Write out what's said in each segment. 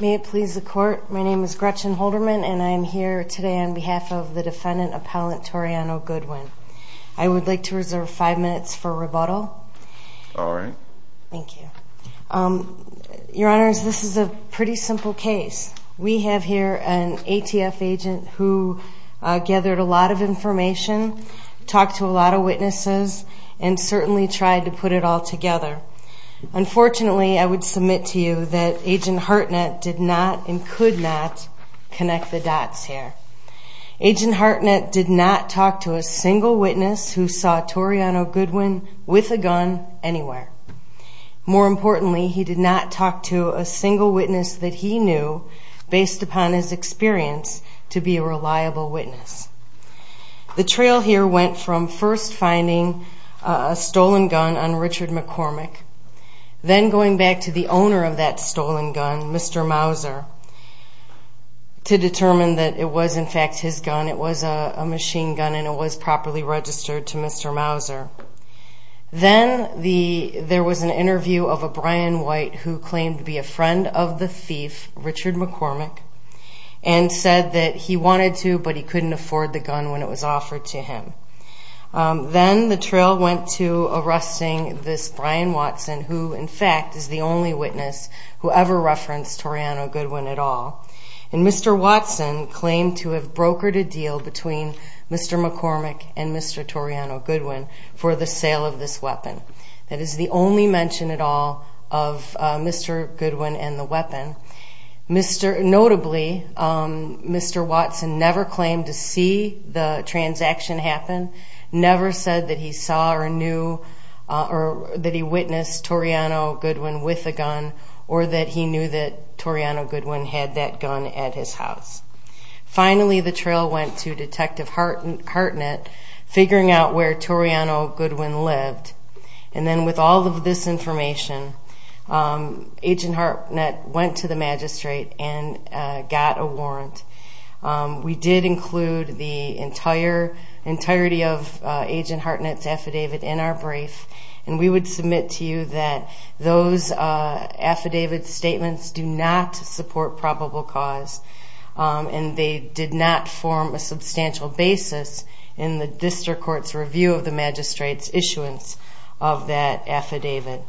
May it please the court, my name is Gretchen Holderman and I am here today on behalf of I would like to reserve five minutes for rebuttal. Your Honor, this is a pretty simple case. We have here an ATF agent who gathered a lot of information, talked to a lot of witnesses and certainly tried to put it all together. Unfortunately, I would submit to you that Agent Hartnett did not and could not connect the dots here. Agent Hartnett did not talk to a single witness who saw Toriano Goodwin with a gun anywhere. More importantly, he did not talk to a single witness that he knew, based upon his experience, to be a reliable witness. The trail here went from first finding a stolen gun on Richard McCormick, then going back to the owner of that stolen gun, Mr. Mauser, to determine that it was in fact his gun. It was a machine gun and it was properly registered to Mr. Mauser. Then there was an interview of a Brian White who claimed to be a friend of the thief, Richard McCormick, and said that he wanted to but he couldn't afford the gun when it was offered to him. Then the trail went to arresting this Brian Watson, who in fact is the only witness who ever referenced Toriano Goodwin at all. Mr. Watson claimed to have brokered a deal between Mr. McCormick and Mr. Toriano Goodwin for the sale of this weapon. That is the only mention at all of Mr. Goodwin and the weapon. Notably, Mr. Watson never claimed to see the transaction happen, never said that he saw or knew or that he witnessed Toriano Goodwin with a gun, or that he knew that Toriano Goodwin had that gun at his house. Finally, the trail went to Detective Hartnett, figuring out where Toriano Goodwin lived. With all of this information, Agent Hartnett went to the magistrate and got a warrant. We did include the entirety of Agent Hartnett's affidavit in our brief and we would submit to you that those affidavit statements do not support probable cause. They did not form a substantial basis in the District Court's review of the magistrate's issuance of that affidavit.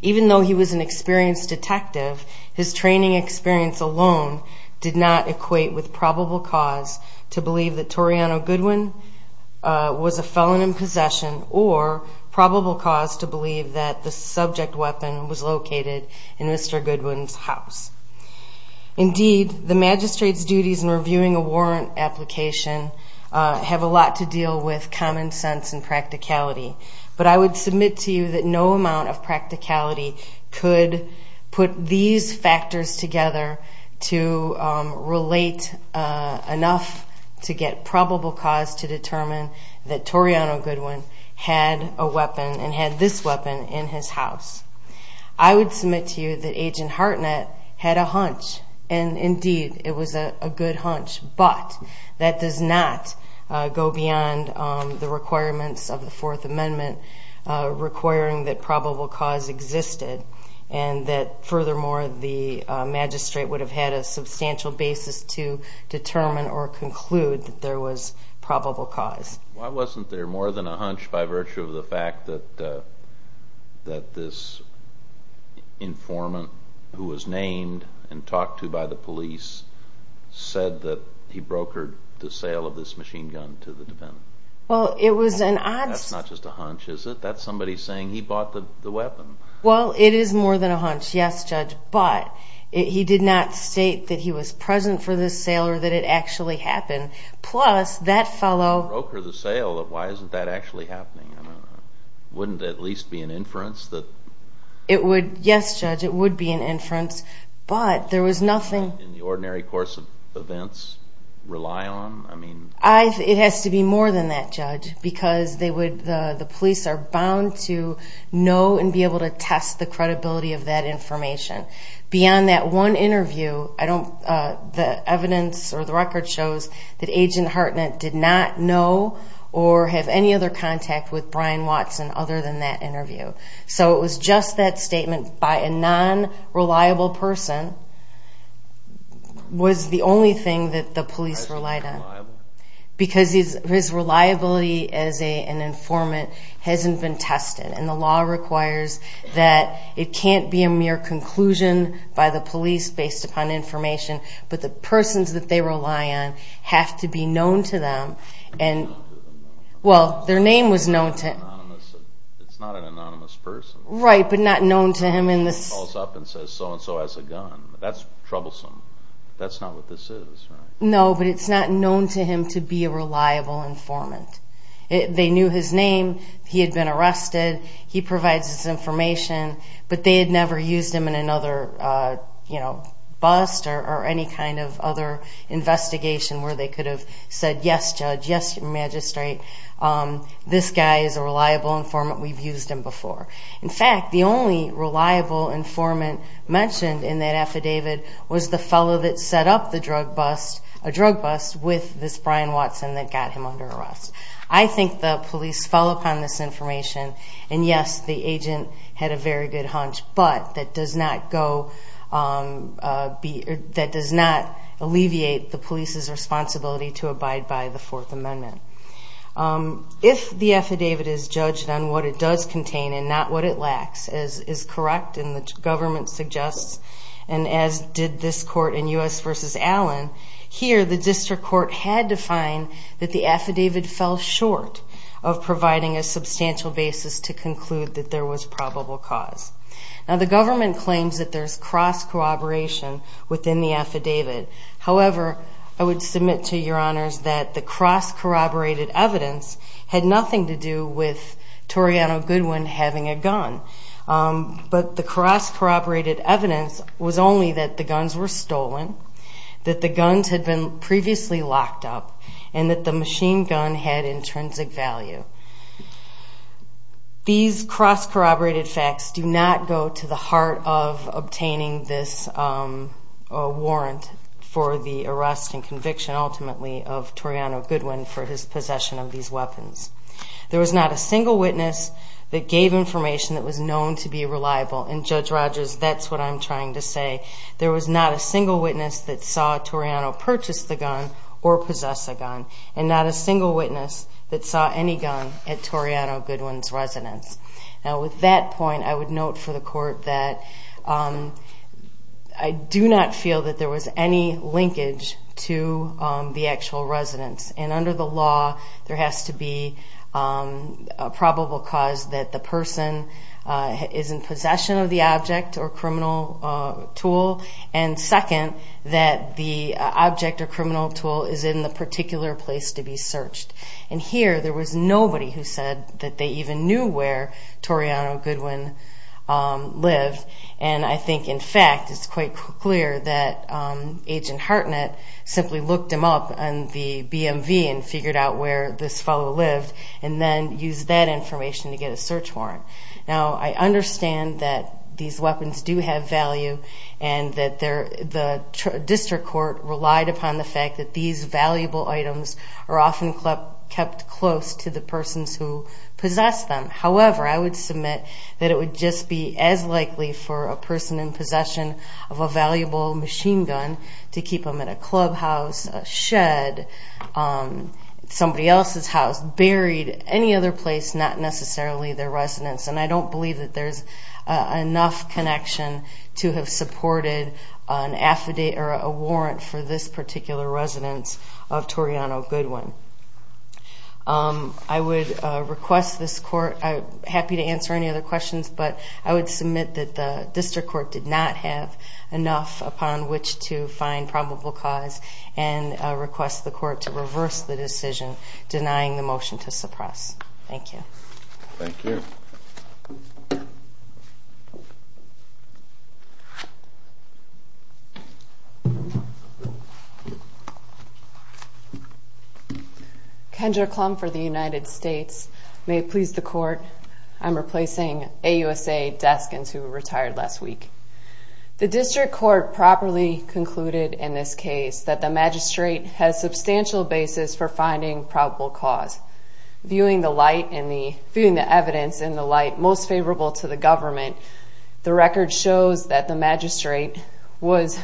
Even though he was an experienced detective, his training experience alone did not equate with probable cause to believe that Toriano Goodwin was a felon in possession, or probable cause to believe that the subject weapon was located in Mr. Goodwin's house. Indeed, the magistrate's duties in reviewing a warrant application have a lot to deal with common sense and practicality, but I would submit to you that no amount of practicality could put these factors together to relate enough to get probable cause to determine that Toriano Goodwin had a weapon and had this weapon in his house. I would submit to you that Agent Hartnett had a hunch, and indeed it was a good hunch, but that does not go beyond the requirements of the Fourth Amendment requiring that probable cause existed and that furthermore the magistrate would have had a substantial basis to determine or conclude that there was probable cause. Why wasn't there more than a hunch by virtue of the fact that this informant, who was named and talked to by the police, said that he brokered the sale of this machine gun to the defendant? That's not just a hunch, is it? That's somebody saying he bought the weapon. Well, it is more than a hunch, yes, Judge, but he did not state that he was present for this sale or that it actually happened. He didn't broker the sale. Why isn't that actually happening? Wouldn't it at least be an inference? Yes, Judge, it would be an inference, but there was nothing... In the ordinary course of events rely on? It has to be more than that, Judge, because the police are bound to know and be able to test the credibility of that information. Beyond that one interview, the evidence or the record shows that Agent Hartnett did not know or have any other contact with Brian Watson other than that interview. So it was just that statement by a non-reliable person was the only thing that the police relied on. Because his reliability as an informant hasn't been tested, and the law requires that it can't be a mere conclusion by the police based upon information, but the persons that they rely on have to be known to them. Well, their name was known to him. It's not an anonymous person. Right, but not known to him in this... Calls up and says so-and-so has a gun. That's troublesome. That's not what this is, right? No, but it's not known to him to be a reliable informant. They knew his name. He had been arrested. He provides this information, but they had never used him in another bust or any kind of other investigation where they could have said, yes, Judge, yes, Magistrate, this guy is a reliable informant. We've used him before. In fact, the only reliable informant mentioned in that affidavit was the fellow that set up the drug bust, a drug bust, with this Brian Watson that got him under arrest. I think the police fell upon this information, and yes, the agent had a very good hunch, but that does not alleviate the police's responsibility to abide by the Fourth Amendment. If the affidavit is judged on what it does contain and not what it lacks, as is correct and the government suggests, and as did this court in U.S. v. Allen, here the district court had to find that the affidavit fell short of providing a substantial basis to conclude that there was probable cause. Now, the government claims that there's cross-cooperation within the affidavit. However, I would submit to your honors that the cross-corroborated evidence had nothing to do with Toriano Goodwin having a gun, but the cross-corroborated evidence was only that the guns were stolen, that the guns had been previously locked up, and that the machine gun had intrinsic value. These cross-corroborated facts do not go to the heart of obtaining this warrant for the arrest and conviction, ultimately, of Toriano Goodwin for his possession of these weapons. There was not a single witness that gave information that was known to be reliable, and Judge Rogers, that's what I'm trying to say. There was not a single witness that saw Toriano purchase the gun or possess a gun, and not a single witness that saw any gun at Toriano Goodwin's residence. Now, with that point, I would note for the court that I do not feel that there was any linkage to the actual residence, and under the law, there has to be a probable cause that the person is in possession of the object or criminal tool, and second, that the object or criminal tool is in the particular place to be searched. And here, there was nobody who said that they even knew where Toriano Goodwin lived, and I think, in fact, it's quite clear that Agent Hartnett simply looked him up on the BMV and figured out where this fellow lived, and then used that information to get a search warrant. Now, I understand that these weapons do have value, and that the district court relied upon the fact that these valuable items are often kept close to the persons who possess them. However, I would submit that it would just be as likely for a person in possession of a valuable machine gun to keep them at a clubhouse, a shed, somebody else's house, buried, any other place, not necessarily their residence, and I don't believe that there's enough connection to have supported an affidavit or a warrant for this particular residence of Toriano Goodwin. I would request this court – I'm happy to answer any other questions, but I would submit that the district court did not have enough upon which to find probable cause and request the court to reverse the decision denying the motion to suppress. Thank you. Thank you. Kendra Klum for the United States. May it please the court, I'm replacing AUSA Deskins, who retired last week. The district court properly concluded in this case that the magistrate has substantial basis for finding probable cause. Viewing the evidence in the light most favorable to the government, the record shows that the magistrate was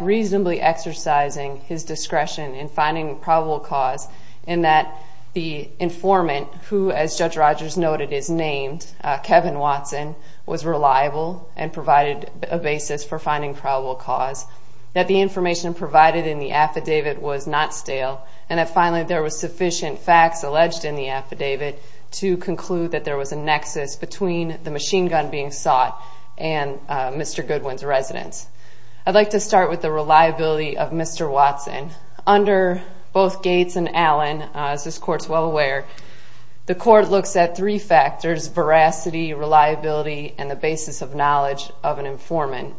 reasonably exercising his discretion in finding probable cause in that the informant, who, as Judge Rogers noted, is named Kevin Watson, was reliable and provided a basis for finding probable cause, that the information provided in the affidavit was not stale, and that finally there was sufficient facts alleged in the affidavit to conclude that there was a nexus between the machine gun being sought and Mr. Goodwin's residence. I'd like to start with the reliability of Mr. Watson. Under both Gates and Allen, as this court is well aware, the court looks at three factors, veracity, reliability, and the basis of knowledge of an informant.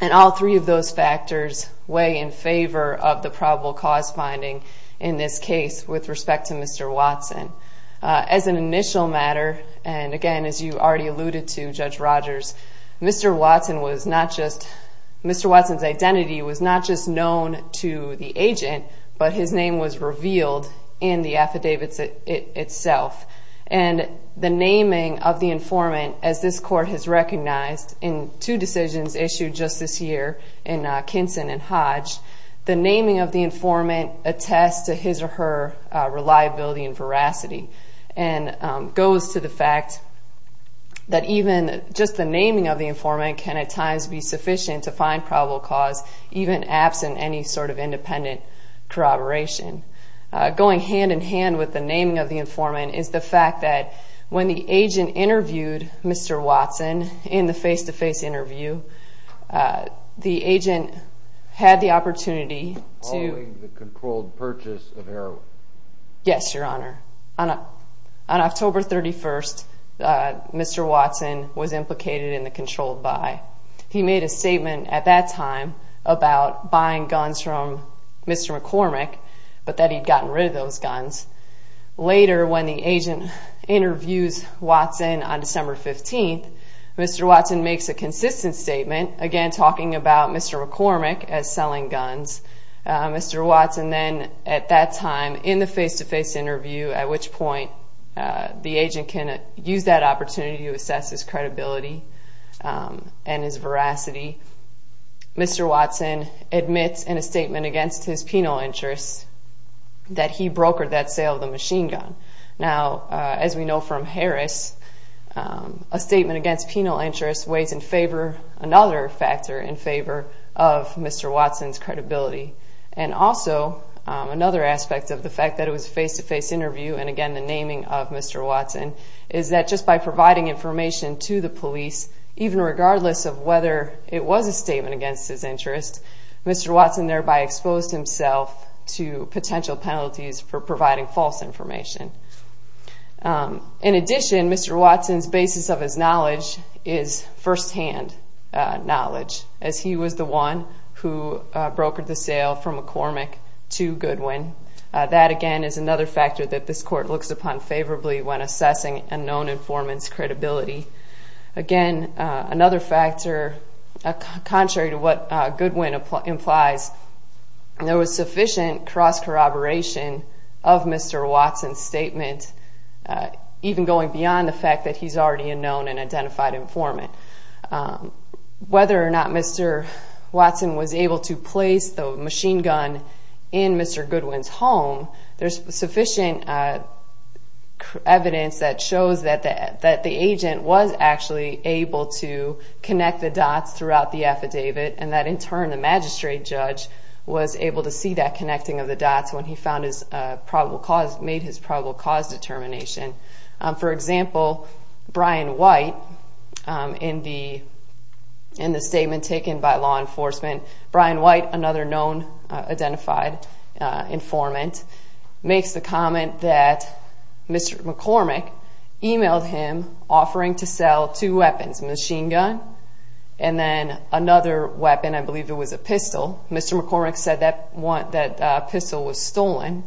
And all three of those factors weigh in favor of the probable cause finding in this case with respect to Mr. Watson. As an initial matter, and again, as you already alluded to, Judge Rogers, Mr. Watson's identity was not just known to the agent, but his name was revealed in the affidavit itself. And the naming of the informant, as this court has recognized in two decisions issued just this year in Kinson and Hodge, the naming of the informant attests to his or her reliability and veracity, and goes to the fact that even just the naming of the informant can at times be sufficient to find probable cause, even absent any sort of independent corroboration. Going hand-in-hand with the naming of the informant is the fact that when the agent interviewed Mr. Watson in the face-to-face interview, the agent had the opportunity to- Following the controlled purchase of heroin. Yes, Your Honor. On October 31st, Mr. Watson was implicated in the controlled buy. He made a statement at that time about buying guns from Mr. McCormick, but that he'd gotten rid of those guns. Later, when the agent interviews Watson on December 15th, Mr. Watson makes a consistent statement, again talking about Mr. McCormick as selling guns. Mr. Watson then, at that time, in the face-to-face interview, at which point, the agent can use that opportunity to assess his credibility and his veracity, Mr. Watson admits in a statement against his penal interest that he brokered that sale of the machine gun. Now, as we know from Harris, a statement against penal interest weighs in favor, another factor in favor, of Mr. Watson's credibility. And also, another aspect of the fact that it was a face-to-face interview, and again the naming of Mr. Watson, is that just by providing information to the police, even regardless of whether it was a statement against his interest, Mr. Watson thereby exposed himself to potential penalties for providing false information. In addition, Mr. Watson's basis of his knowledge is firsthand knowledge, as he was the one who brokered the sale from McCormick to Goodwin. That, again, is another factor that this court looks upon favorably when assessing a known informant's credibility. Again, another factor, contrary to what Goodwin implies, there was sufficient cross-corroboration of Mr. Watson's statement, even going beyond the fact that he's already a known and identified informant. Whether or not Mr. Watson was able to place the machine gun in Mr. Goodwin's home, there's sufficient evidence that shows that the agent was actually able to connect the dots throughout the affidavit, and that in turn the magistrate judge was able to see that connecting of the dots when he made his probable cause determination. For example, Brian White, in the statement taken by law enforcement, Brian White, another known identified informant, makes the comment that Mr. McCormick emailed him offering to sell two weapons, a machine gun and then another weapon, I believe it was a pistol. Mr. McCormick said that pistol was stolen.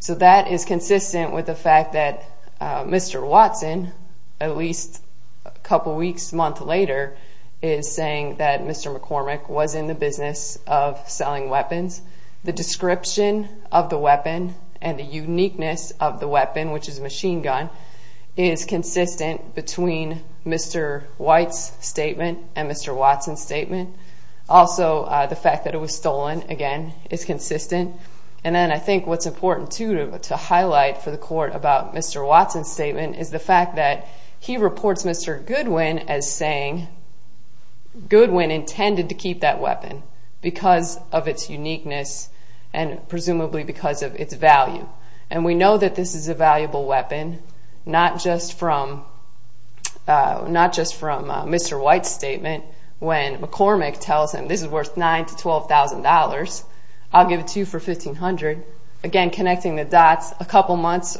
So that is consistent with the fact that Mr. Watson, at least a couple weeks, a month later, is saying that Mr. McCormick was in the business of selling weapons. The description of the weapon and the uniqueness of the weapon, which is a machine gun, is consistent between Mr. White's statement and Mr. Watson's statement. Also, the fact that it was stolen, again, is consistent. And then I think what's important, too, to highlight for the court about Mr. Watson's statement is the fact that he reports Mr. Goodwin as saying Goodwin intended to keep that weapon because of its uniqueness and presumably because of its value. And we know that this is a valuable weapon, not just from Mr. White's statement when McCormick tells him this is worth $9,000 to $12,000, I'll give it to you for $1,500. Again, connecting the dots, a couple months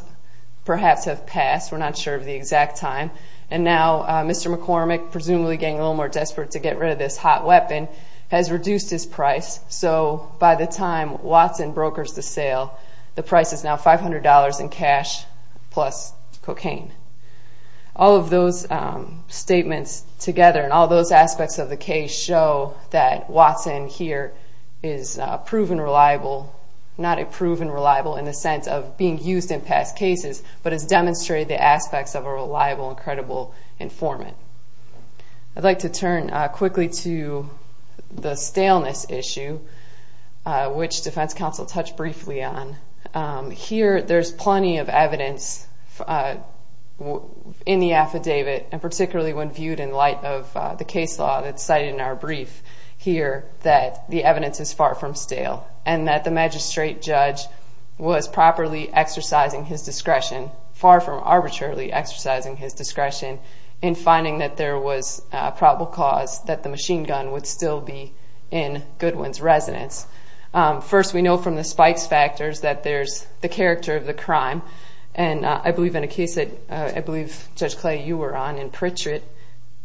perhaps have passed, we're not sure of the exact time, and now Mr. McCormick, presumably getting a little more desperate to get rid of this hot weapon, has reduced his price. So by the time Watson brokers the sale, the price is now $500 in cash plus cocaine. All of those statements together and all those aspects of the case show that Watson here is proven reliable, not a proven reliable in the sense of being used in past cases, but has demonstrated the aspects of a reliable and credible informant. I'd like to turn quickly to the staleness issue, which defense counsel touched briefly on. Here there's plenty of evidence in the affidavit, and particularly when viewed in light of the case law that's cited in our brief here, that the evidence is far from stale and that the magistrate judge was properly exercising his discretion, far from arbitrarily exercising his discretion, in finding that there was probable cause that the machine gun would still be in Goodwin's residence. First, we know from the spikes factors that there's the character of the crime, and I believe in a case that Judge Clay, you were on in Pritchett,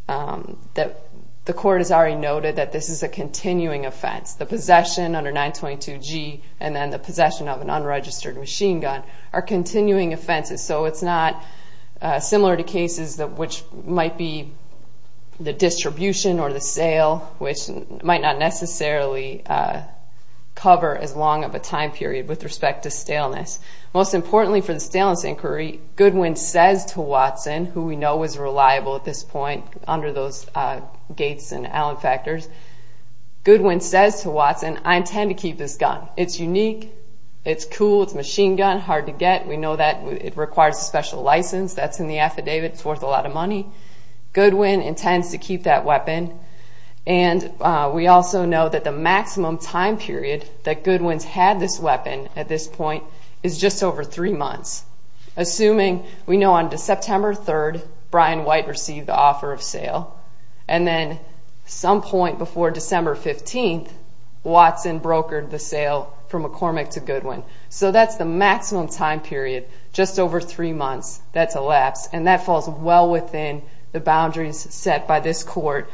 that the court has already noted that this is a continuing offense. The possession under 922G and then the possession of an unregistered machine gun are continuing offenses, so it's not similar to cases which might be the distribution or the sale, which might not necessarily cover as long of a time period with respect to staleness. Most importantly for the staleness inquiry, Goodwin says to Watson, who we know is reliable at this point under those Gates and Allen factors, Goodwin says to Watson, I intend to keep this gun. It's unique, it's cool, it's a machine gun, hard to get, we know that it requires a special license, that's in the affidavit, it's worth a lot of money. Goodwin intends to keep that weapon, and we also know that the maximum time period that Goodwin's had this weapon at this point is just over three months. Assuming, we know on September 3rd, Brian White received the offer of sale, and then some point before December 15th, Watson brokered the sale from McCormick to Goodwin. So that's the maximum time period, just over three months, that's a lapse, and that falls well within the boundaries set by this court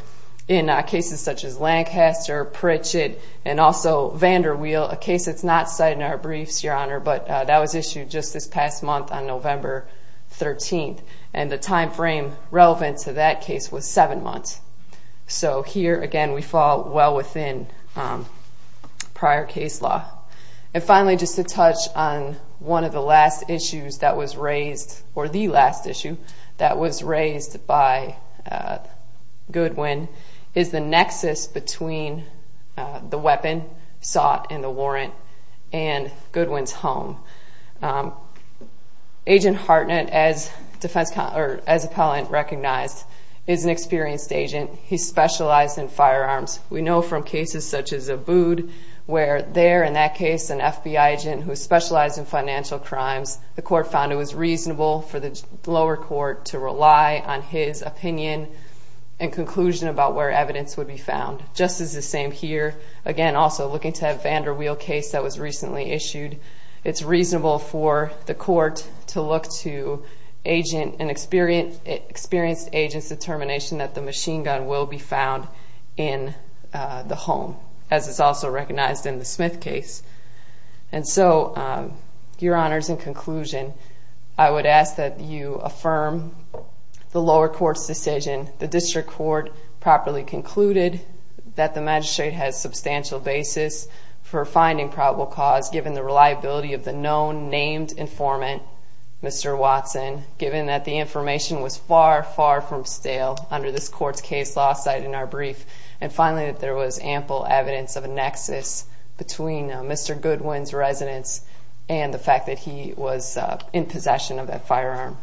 in cases such as Lancaster, Pritchett, and also VanderWheel, a case that's not cited in our briefs, Your Honor, but that was issued just this past month on November 13th, and the time frame relevant to that case was seven months. So here, again, we fall well within prior case law. And finally, just to touch on one of the last issues that was raised, or the last issue that was raised by Goodwin, is the nexus between the weapon sought and the warrant and Goodwin's home. Agent Hartnett, as appellant recognized, is an experienced agent. He specialized in firearms. We know from cases such as Abood where there, in that case, an FBI agent who specialized in financial crimes, the court found it was reasonable for the lower court to rely on his opinion and conclusion about where evidence would be found. Just as the same here, again, also looking to that VanderWheel case that was recently issued, it's reasonable for the court to look to an experienced agent's determination that the machine gun will be found in the home, as is also recognized in the Smith case. And so, Your Honors, in conclusion, I would ask that you affirm the lower court's decision, the district court properly concluded that the magistrate has substantial basis for finding probable cause given the reliability of the known, named informant, Mr. Watson, given that the information was far, far from stale under this court's case law, cited in our brief, and finally that there was ample evidence of a nexus between Mr. Goodwin's residence and the fact that he was in possession of that firearm.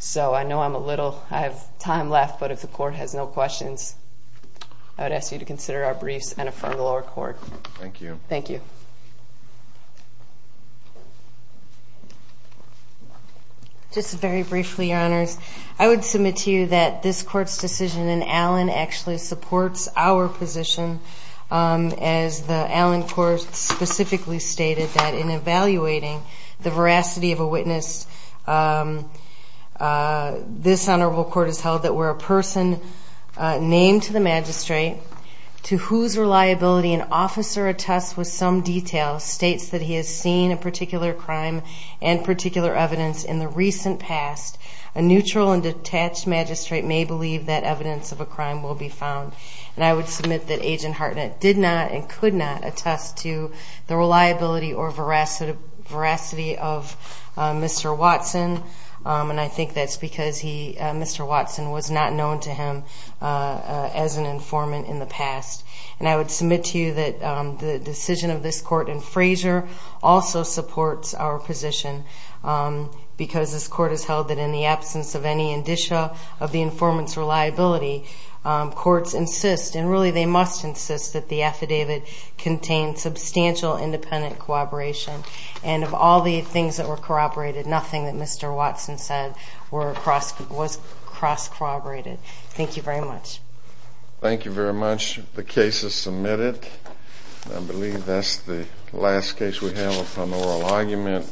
So I know I'm a little, I have time left, but if the court has no questions, I would ask you to consider our briefs and affirm the lower court. Thank you. Thank you. Just very briefly, Your Honors, I would submit to you that this court's decision in Allen actually supports our position, as the Allen court specifically stated that in evaluating the veracity of a witness, this honorable court has held that where a person named to the magistrate, to whose reliability an officer attests with some detail, states that he has seen a particular crime and particular evidence in the recent past, a neutral and detached magistrate may believe that evidence of a crime will be found. And I would submit that Agent Hartnett did not and could not attest to the reliability or veracity of Mr. Watson, and I think that's because Mr. Watson was not known to him as an informant in the past. And I would submit to you that the decision of this court in Fraser also supports our position, because this court has held that in the absence of any indicia of the informant's reliability, courts insist, and really they must insist, that the affidavit contain substantial independent corroboration. And of all the things that were corroborated, nothing that Mr. Watson said was cross-corroborated. Thank you very much. Thank you very much. The case is submitted. I believe that's the last case we have upon oral argument.